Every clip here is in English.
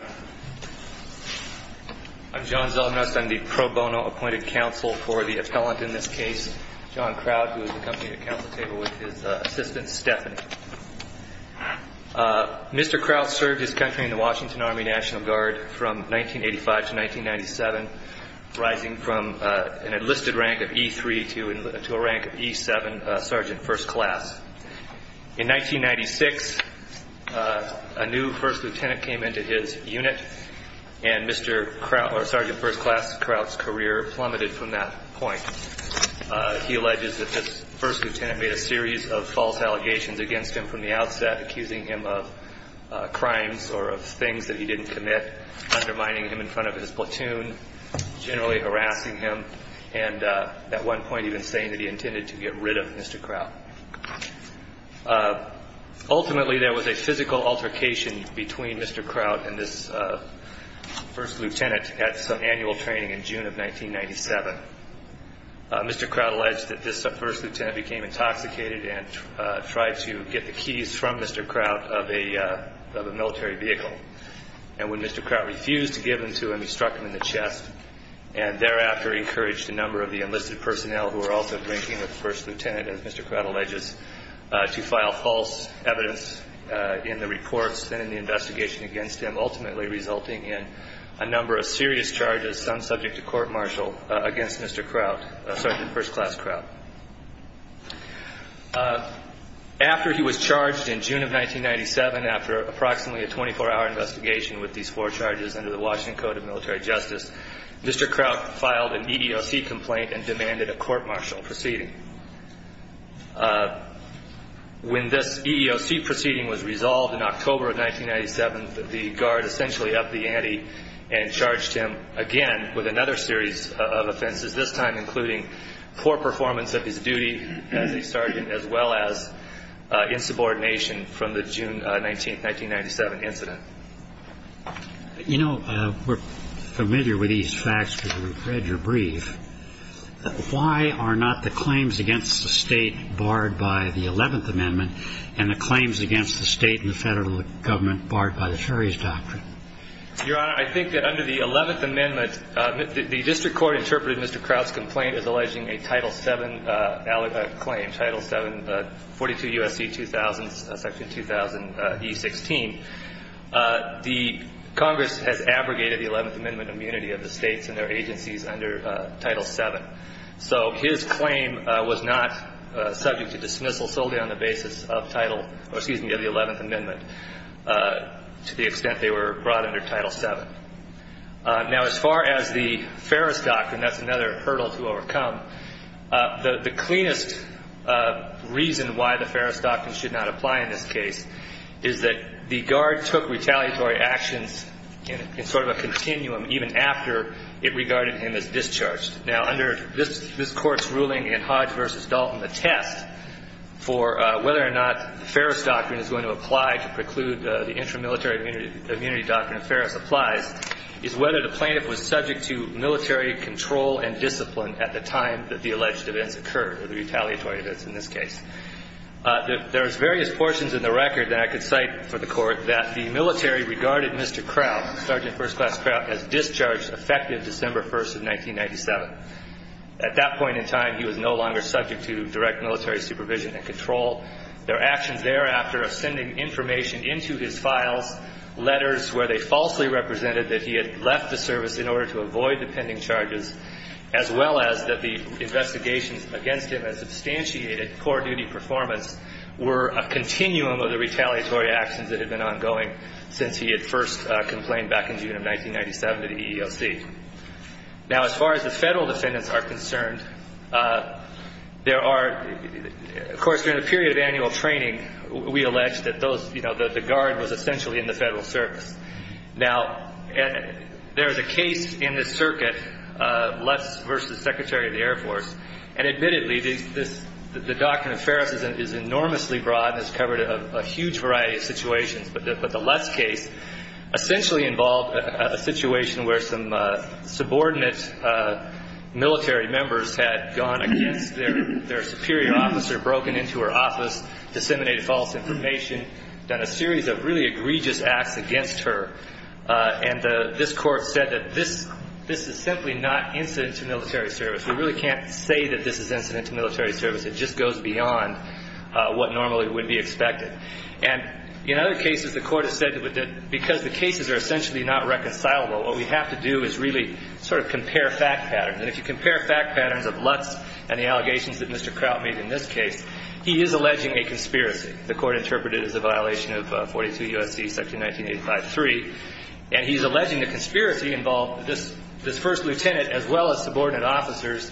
I'm John Zelnost. I'm the pro bono appointed counsel for the appellant in this case, John Crout, who is accompanying the counsel table with his assistant Stephanie. Mr. Crout served his country in the Washington Army National Guard from 1985 to 1997, rising from an enlisted rank of E3 to a rank of E7, Sergeant First Class. In 1996, a new First Lieutenant came into his unit, and Sergeant First Class Crout's career plummeted from that point. He alleges that this First Lieutenant made a series of false allegations against him from the outset, accusing him of crimes or of things that he didn't commit, undermining him in front of his platoon, generally harassing him, and at one point even saying that he intended to get rid of Mr. Crout. Ultimately, there was a physical altercation between Mr. Crout and this First Lieutenant at some annual training in June of 1997. Mr. Crout alleged that this First Lieutenant became intoxicated and tried to get the keys from Mr. Crout of a military vehicle, and when Mr. Crout refused to give them to him, he struck him in the chest and thereafter encouraged a number of the enlisted personnel who were also drinking with the First Lieutenant, as Mr. Crout alleges, to file false evidence in the reports and in the investigation against him, ultimately resulting in a number of serious charges, some subject to court martial, against Mr. Crout, Sergeant First Class Crout. After he was charged in June of 1997, after approximately a 24-hour investigation with these four charges under the Washington Code of Military Justice, Mr. Crout filed an EEOC complaint and demanded a court martial proceeding. When this EEOC proceeding was resolved in October of 1997, the Guard essentially upped the ante and charged him again with another series of offenses, this time including poor performance of his duty as a Sergeant as well as insubordination from the June 19, 1997 incident. You know, we're familiar with these facts because we've read your brief. Why are not the claims against the state barred by the Eleventh Amendment and the claims against the state and the federal government barred by the Ferry's Doctrine? Your Honor, I think that under the Eleventh Amendment, the district court interpreted Mr. Crout's complaint as alleging a Title VII claim, Title VII, 42 U.S.C. 2000, Section 2000, E16. The Congress has abrogated the Eleventh Amendment immunity of the states and their agencies under Title VII. So his claim was not subject to dismissal solely on the basis of Title, or excuse me, of the Eleventh Amendment to the extent they were brought under Title VII. Now, as far as the Ferry's Doctrine, that's another hurdle to overcome. The cleanest reason why the Ferry's Doctrine should not apply in this case is that the Guard took retaliatory actions in sort of a continuum even after it regarded him as discharged. Now, under this Court's ruling in Hodge v. Dalton, the test for whether or not the Ferry's Doctrine applies is whether the plaintiff was subject to military control and discipline at the time that the alleged events occurred, or the retaliatory events in this case. There's various portions in the record that I could cite for the Court that the military regarded Mr. Crout, Sergeant First Class Crout, as discharged effective December 1st of 1997. At that point in time, he was no longer subject to direct military supervision and control. Their actions thereafter of sending information into his files, letters where they falsely represented that he had left the service in order to avoid the pending charges, as well as that the investigations against him had substantiated poor duty performance, were a continuum of the retaliatory actions that had been ongoing since he had first complained back in June of 1997 to the EEOC. Now, as far as the Federal defendants are concerned, there are, of course, during the period of annual training, we allege that those, you know, the Guard was essentially in the Federal service. Now, there is a case in this circuit, Lutz versus Secretary of the Air Force, and admittedly, the Doctrine of Fairness is enormously broad and has covered a huge variety of situations, but the Lutz case essentially involved a situation where some subordinate military members had gone against their superior officer, broken into her office, disseminated false information, done a series of really egregious acts against her, and this Court said that this is simply not incident to military service. We really can't say that this is incident to military service. It just goes beyond what normally would be expected. And in other cases, the Court has said that because the cases are essentially not reconcilable, what we have to do is really sort of compare fact patterns. And if you compare fact patterns of Lutz and the allegations that Mr. Kraut made in this case, he is alleging a conspiracy. The Court interpreted it as a violation of 42 U.S.C. section 1985-3, and he's alleging the conspiracy involved this first lieutenant as well as subordinate officers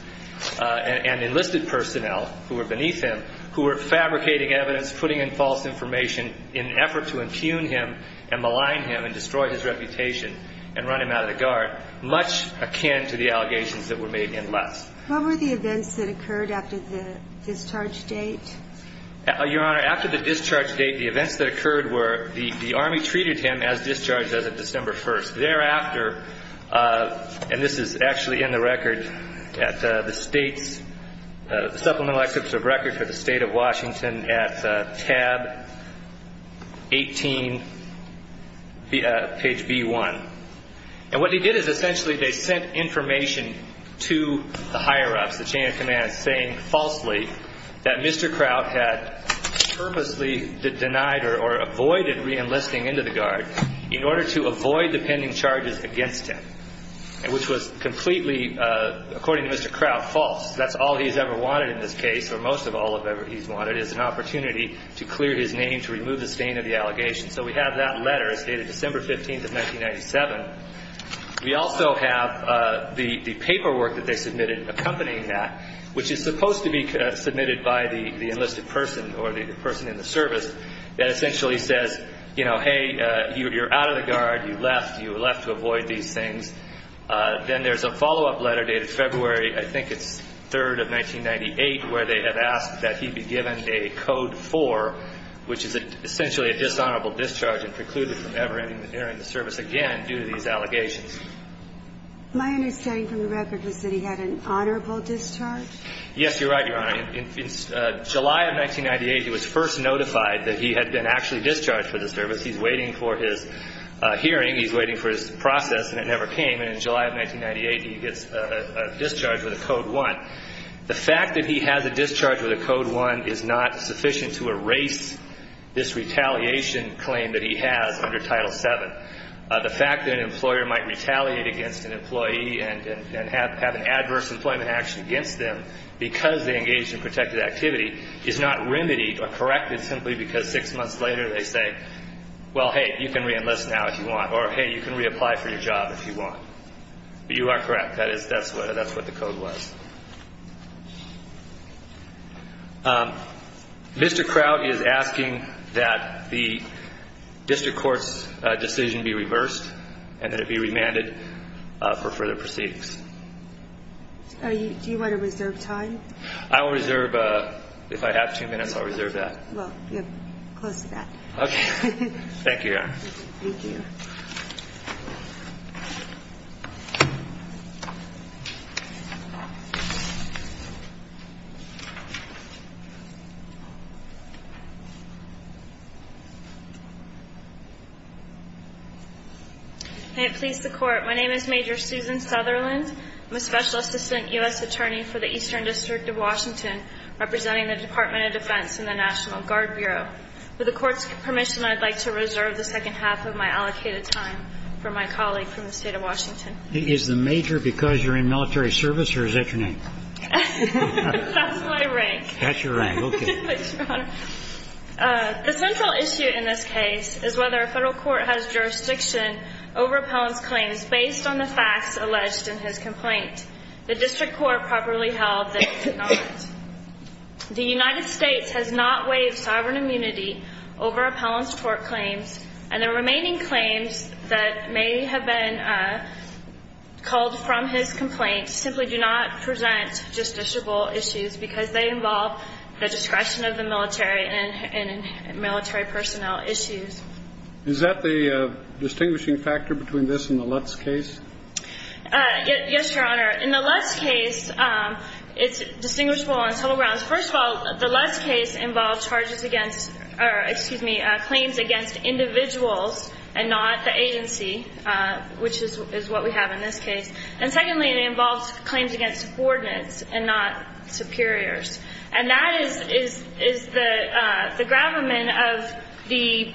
and enlisted personnel who were beneath him, who were fabricating evidence, putting in false information in an effort to impugn him and malign him and destroy his reputation and run him out of the Guard, much akin to the allegations that were made in Lutz. What were the events that occurred after the discharge date? Your Honor, after the discharge date, the events that occurred were the Army treated him as discharged as of December 1st. Thereafter, and this is actually in the record at the State's Supplemental Exhibit of Record for the State of Washington at tab 18, page B1. And what he did is essentially they sent information to the higher-ups, the chain of command, saying falsely that Mr. Kraut had purposely denied or avoided reenlisting into the Guard in order to avoid the pending charges against him, which was completely, according to Mr. Kraut, false. That's all he's ever wanted in this case, or most of all he's ever wanted, is an opportunity to clear his name, to remove the stain of the allegations. So we have that letter as dated December 15th of 1997. We also have the paperwork that they submitted accompanying that, which is supposed to be submitted by the enlisted person or the person in the service that essentially says, you know, hey, you're out of the Guard, you left, you left to avoid these things. Then there's a follow-up letter dated February, I think it's 3rd of 1998, where they have asked that he be given a Code 4, which is essentially a dishonorable discharge and precluded from ever entering the service again due to these allegations. My understanding from the record was that he had an honorable discharge? Yes, you're right, Your Honor. In July of 1998, he was first notified that he had been actually discharged from the service. He's waiting for his hearing, he's waiting for his process, and it never came. And in July of 1998, he gets a discharge with a Code 1. The fact that he has a discharge with a Code 1 is not sufficient to erase this retaliation claim that he has under Title 7. The fact that an employer might retaliate against an employee and have an adverse employment action against them because they engaged in protected activity is not remedied or corrected simply because six months later they say, well, hey, you can reenlist now if you want, or hey, you can reapply for your job if you want. You are correct. That is, that's what the Code was. Mr. Kraut is asking that the district court's decision be reversed and that it be remanded for further proceedings. Do you want to reserve time? I will reserve, if I have two minutes, I'll reserve that. Well, you're close to that. Okay. Thank you, Your Honor. Thank you. May it please the Court, my name is Major Susan Sutherland. I'm a Special Assistant U.S. Attorney for the Eastern District of Washington, representing the Department of Defense and the National Guard Bureau. With the Court's permission, I'd like to reserve the second half of my allocated time for my colleague from the State of Washington. Is the Major because you're in military service or is that your name? That's my rank. That's your rank. Okay. Thank you, Your Honor. The central issue in this case is whether a Federal court has jurisdiction over appellant's claims based on the facts alleged in his complaint. The district court properly held that it did not. The United States has not waived sovereign immunity over appellant's court claims and the remaining claims that may have been culled from his complaint simply do not present justiciable issues because they involve the discretion of the military and military personnel issues. Is that the distinguishing factor between this and the Lutz case? Yes, Your Honor. In the Lutz case, it's distinguishable on several grounds. First of all, the Lutz case involved charges against, or excuse me, claims against individuals and not the agency, which is what we have in this case. And secondly, it involves claims against coordinates and not superiors. And that is the gravamen of the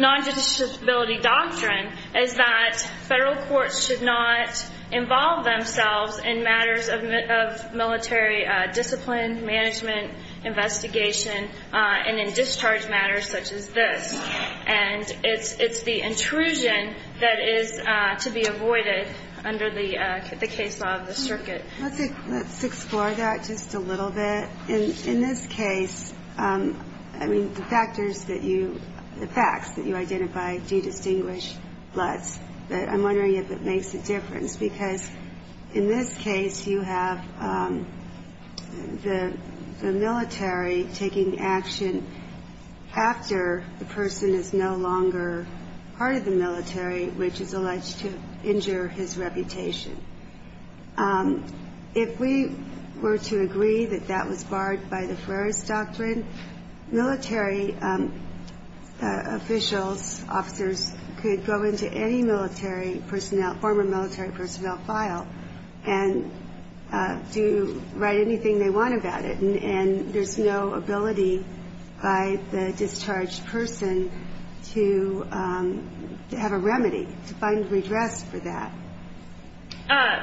non-judiciability doctrine is that Federal courts should not involve themselves in matters of military discipline, management, investigation, and in discharge matters such as this. And it's the intrusion that is to be avoided under the case law of the circuit. Let's explore that just a little bit. In this case, I mean, the factors that you, the facts that you identify do distinguish Lutz. But I'm wondering if it makes a difference because in this case, you have the military taking action after the person is no longer part of the military, which is alleged to injure his reputation. If we were to agree that that was barred by the Ferreris doctrine, military officials, officers could go into any military personnel, former military personnel file and do write anything they want about it. And there's no ability by the discharged person to have a remedy, to find redress for that.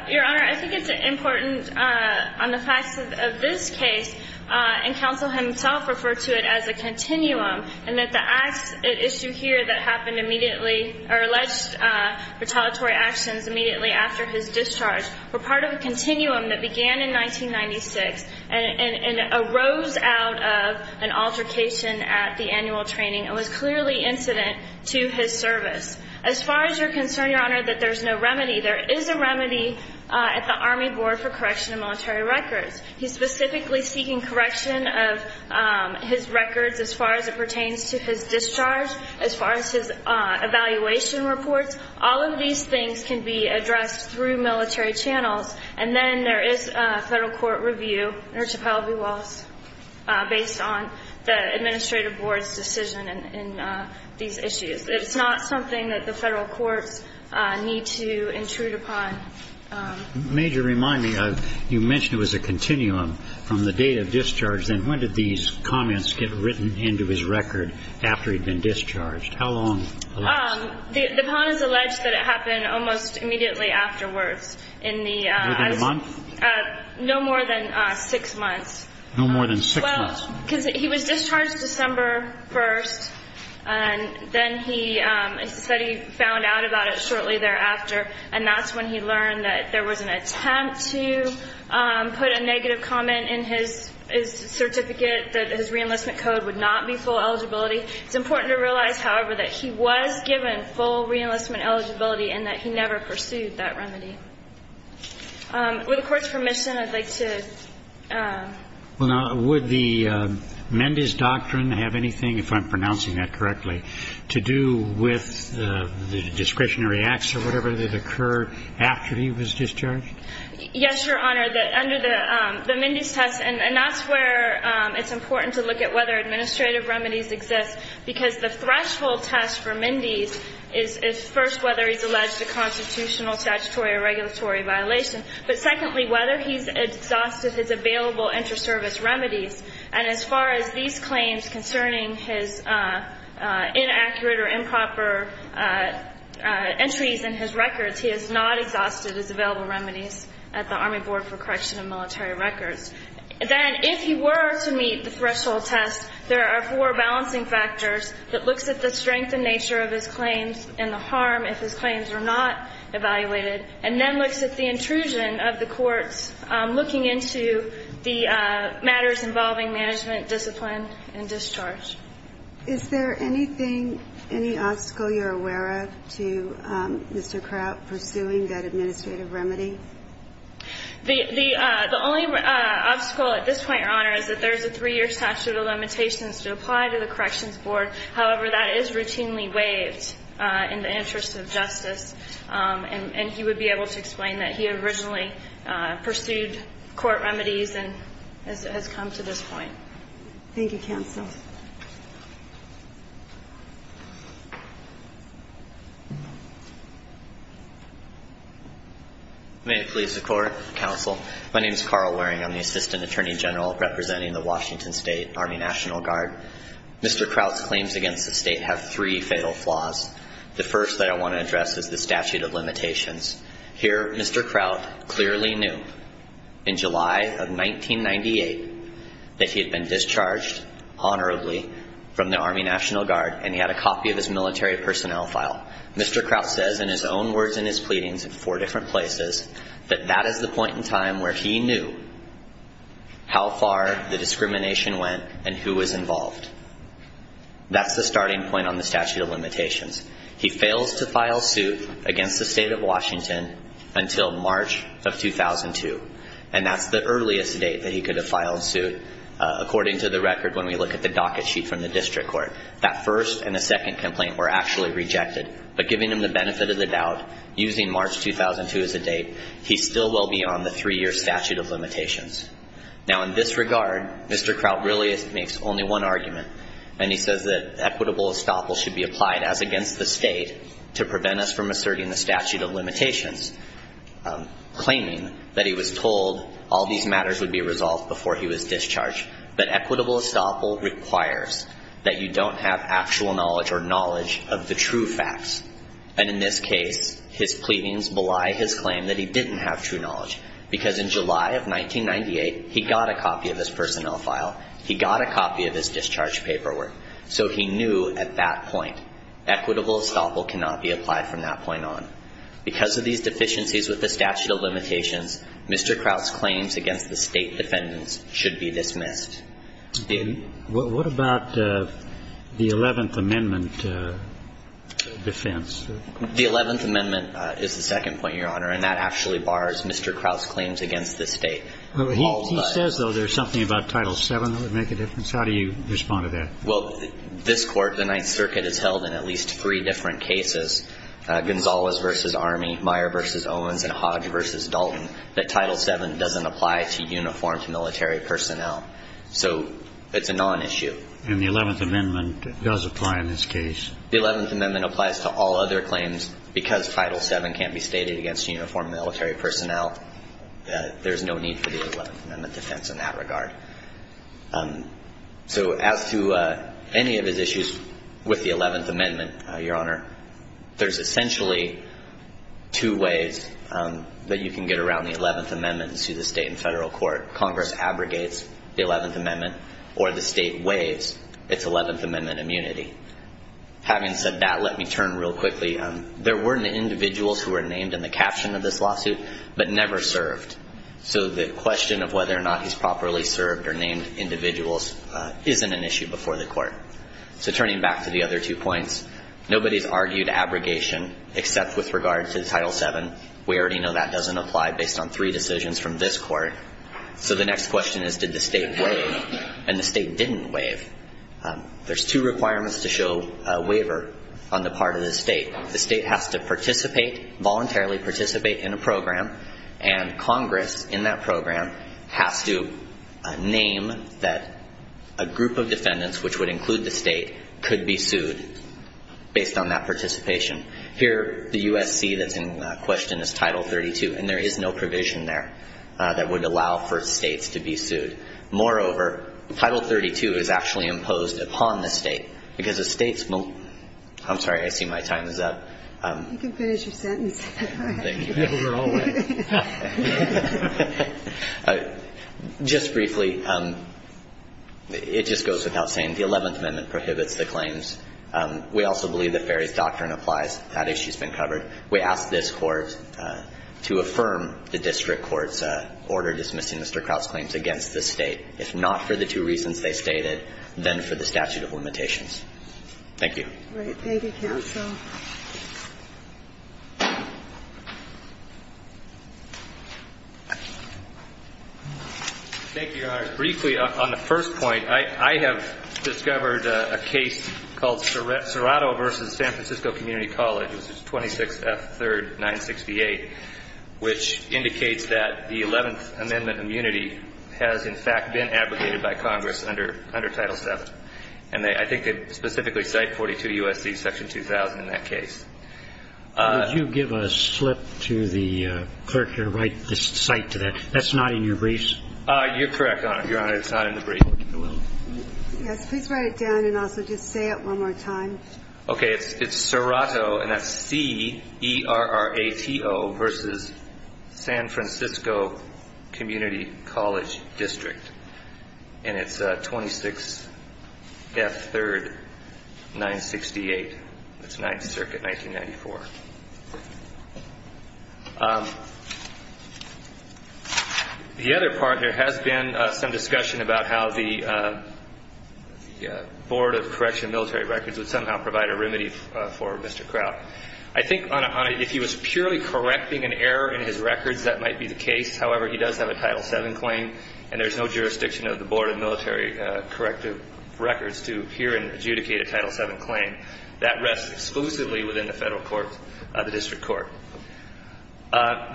Your Honor, I think it's important on the facts of this case, and counsel himself referred to it as a continuum, and that the acts at issue here that happened immediately, or alleged retaliatory actions immediately after his discharge, were part of a continuum that began in 1996 and arose out of an altercation at the annual training and was clearly incident to his service. As far as your concern, Your Honor, that there's no remedy, there is a remedy at the Army Board for Correction of Military Records. He's specifically seeking correction of his records as far as it pertains to his discharge, as far as his evaluation reports. All of these things can be addressed through military channels, and then there is a federal court review, nurtupelle v. Wallace, based on the administrative board's decision in these issues. It's not something that the federal courts need to intrude upon. Major, remind me, you mentioned it was a continuum from the date of discharge, then when did these comments get written into his record after he'd been discharged? How long? The pawn has alleged that it happened almost immediately afterwards. Within a month? No more than six months. No more than six months? Well, because he was discharged December 1st, and then he said he found out about it shortly thereafter, and that's when he learned that there was an attempt to put a negative comment in his certificate that his reenlistment code would not be full eligibility. It's important to realize, however, that he was given full reenlistment eligibility and that he never pursued that remedy. With the Court's permission, I'd like to ---- Well, now, would the Mendez doctrine have anything, if I'm pronouncing that correctly, to do with the discretionary acts or whatever that occurred after he was discharged? Yes, Your Honor. Under the Mendez test, and that's where it's important to look at whether administrative remedies exist, because the threshold test for Mendez is, first, whether he's alleged a constitutional, statutory, or regulatory violation, but secondly, whether he's exhausted his available inter-service remedies. And as far as these claims concerning his inaccurate or improper entries in his records, he has not exhausted his available remedies at the Army Board for Correction of Military Records. Then, if he were to meet the threshold test, there are four balancing factors that looks at the strength and nature of his claims and the harm if his claims are not evaluated, and then looks at the intrusion of the courts looking into the matters involving management, discipline, and discharge. Is there anything, any obstacle you're aware of to Mr. Kraut pursuing that administrative remedy? The only obstacle at this point, Your Honor, is that there's a three-year statute of limitations to apply to the Corrections Board. However, that is routinely waived in the interest of justice, and he would be able to explain that he originally pursued court remedies and has come to this point. Thank you, Counsel. May it please the Court, Counsel. My name is Carl Waring. I'm the Assistant Attorney General representing the Washington State Army National Guard. Mr. Kraut's claims against the State have three fatal flaws. The first that I want to address is the statute of limitations. Here, Mr. Kraut clearly knew in July of 1998 that he had been discharged honorably from the Army National Guard, and he had a copy of his military personnel file. Mr. Kraut says in his own words in his pleadings in four different places that that is the That's the starting point on the statute of limitations. He fails to file suit against the State of Washington until March of 2002, and that's the earliest date that he could have filed suit. According to the record, when we look at the docket sheet from the district court, that first and the second complaint were actually rejected. But giving him the benefit of the doubt, using March 2002 as a date, he still will be on the three-year statute of limitations. Now, in this regard, Mr. Kraut really makes only one argument, and he says that equitable estoppel should be applied as against the State to prevent us from asserting the statute of limitations, claiming that he was told all these matters would be resolved before he was discharged. But equitable estoppel requires that you don't have actual knowledge or knowledge of the true facts. And in this case, his pleadings belie his claim that he didn't have true knowledge, because in July of 1998, he got a copy of his personnel file. He got a copy of his discharge paperwork. So he knew at that point equitable estoppel cannot be applied from that point on. Because of these deficiencies with the statute of limitations, Mr. Kraut's claims against the State defendants should be dismissed. What about the Eleventh Amendment defense? The Eleventh Amendment is the second point, Your Honor, and that actually bars Mr. Kraut's claims against the State. He says, though, there's something about Title VII that would make a difference. How do you respond to that? Well, this Court, the Ninth Circuit, has held in at least three different cases, Gonzalez v. Army, Meyer v. Owens, and Hodge v. Dalton, that Title VII doesn't apply to uniformed military personnel. So it's a nonissue. And the Eleventh Amendment does apply in this case. The Eleventh Amendment applies to all other claims because Title VII can't be stated against uniformed military personnel. There's no need for the Eleventh Amendment defense in that regard. So as to any of his issues with the Eleventh Amendment, Your Honor, there's essentially two ways that you can get around the Eleventh Amendment to the State and Federal Court. Congress abrogates the Eleventh Amendment, or the State waives its Eleventh Amendment immunity. Having said that, let me turn real quickly. There were individuals who were named in the caption of this lawsuit, but never served. So the question of whether or not he's properly served or named individuals isn't an issue before the Court. So turning back to the other two points, nobody's argued abrogation except with regard to Title VII. We already know that doesn't apply based on three decisions from this Court. So the next question is, did the State waive? And the State didn't waive. There's two requirements to show a waiver on the part of the State. The State has to participate, voluntarily participate in a program, and Congress in that program has to name that a group of defendants, which would include the State, could be sued based on that participation. Here, the USC that's in question is Title XXXII, and there is no provision there that would allow for States to be sued. Moreover, Title XXXII is actually imposed upon the State because the State's... I'm sorry, I see my time is up. You can finish your sentence. Just briefly, it just goes without saying, the Eleventh Amendment prohibits the claims. We also believe that Ferry's Doctrine applies. That issue's been covered. We ask this Court to affirm the District Court's order for dismissing Mr. Kraut's claims against the State, if not for the two reasons they stated, then for the statute of limitations. Thank you. Thank you, Your Honor. Briefly, on the first point, I have discovered a case called Serrato v. San Francisco Community College, which is 26F 3rd 968, which indicates that the Eleventh Amendment immunity has in fact been abrogated by Congress under Title VII. And I think they specifically cite 42 U.S.C. Section 2000 in that case. Would you give a slip to the clerk here to write this cite to that? That's not in your briefs? You're correct, Your Honor. It's not in the brief. Yes, please write it down and also just say it one more time. Okay, it's Serrato, and that's C-E-R-R-A-T-O v. San Francisco Community College District. And it's 26 F 3rd 968. That's Ninth Circuit, 1994. The other part here has been some discussion about how the Board of Correctional Military Records would somehow provide a remedy for Mr. Crouch. I think if he was purely correcting an error in his records, that might be the case. However, he does have a Title VII claim, and there's no jurisdiction of the Board of Military Corrective Records to hear and adjudicate a Title VII claim. That rests exclusively within the federal court, the district court.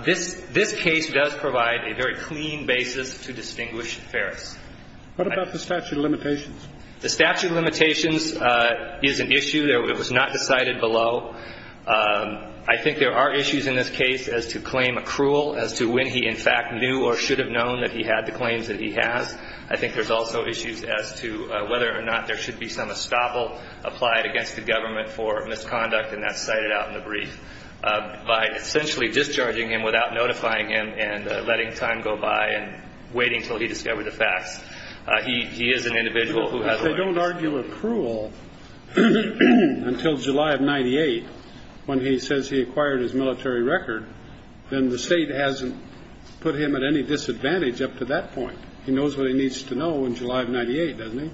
This case does provide a very clean basis to distinguish Ferris. What about the statute of limitations? The statute of limitations is an issue. It was not decided below. I think there are issues in this case as to claim accrual, as to when he in fact knew or should have known that he had the claims that he has. I think there's also issues as to whether or not there should be some estoppel applied against the government for misconduct, and that's cited out in the brief. By essentially discharging him without notifying him and letting time go by and waiting until he discovered the facts, he is an individual If they don't argue accrual until July of 98, when he says he acquired his military record, then the State hasn't put him at any disadvantage up to that point. He knows what he needs to know in July of 98, doesn't he?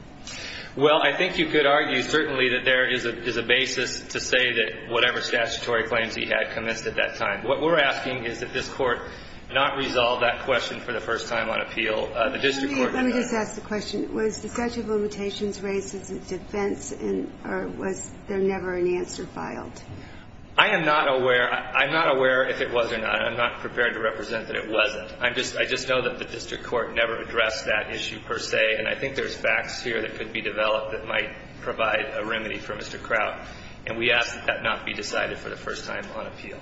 Well, I think you could argue certainly that there is a basis to say that whatever statutory claims he had commenced at that time. What we're asking is that this Court not resolve that question for the first time on appeal. The district court Let me just ask the question. Was the statute of limitations raised as a defense or was there never an answer filed? I am not aware. I'm not aware if it was or not. I'm not prepared to represent that it wasn't. I just know that the district court never addressed that issue per se, and I think there's facts here that could be developed that might provide a remedy for Mr. Kraut. for the first time on appeal.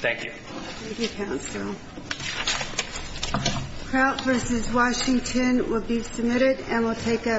Thank you. Thank you, Counsel. Thank you. Kraut v. Washington will be submitted and will take up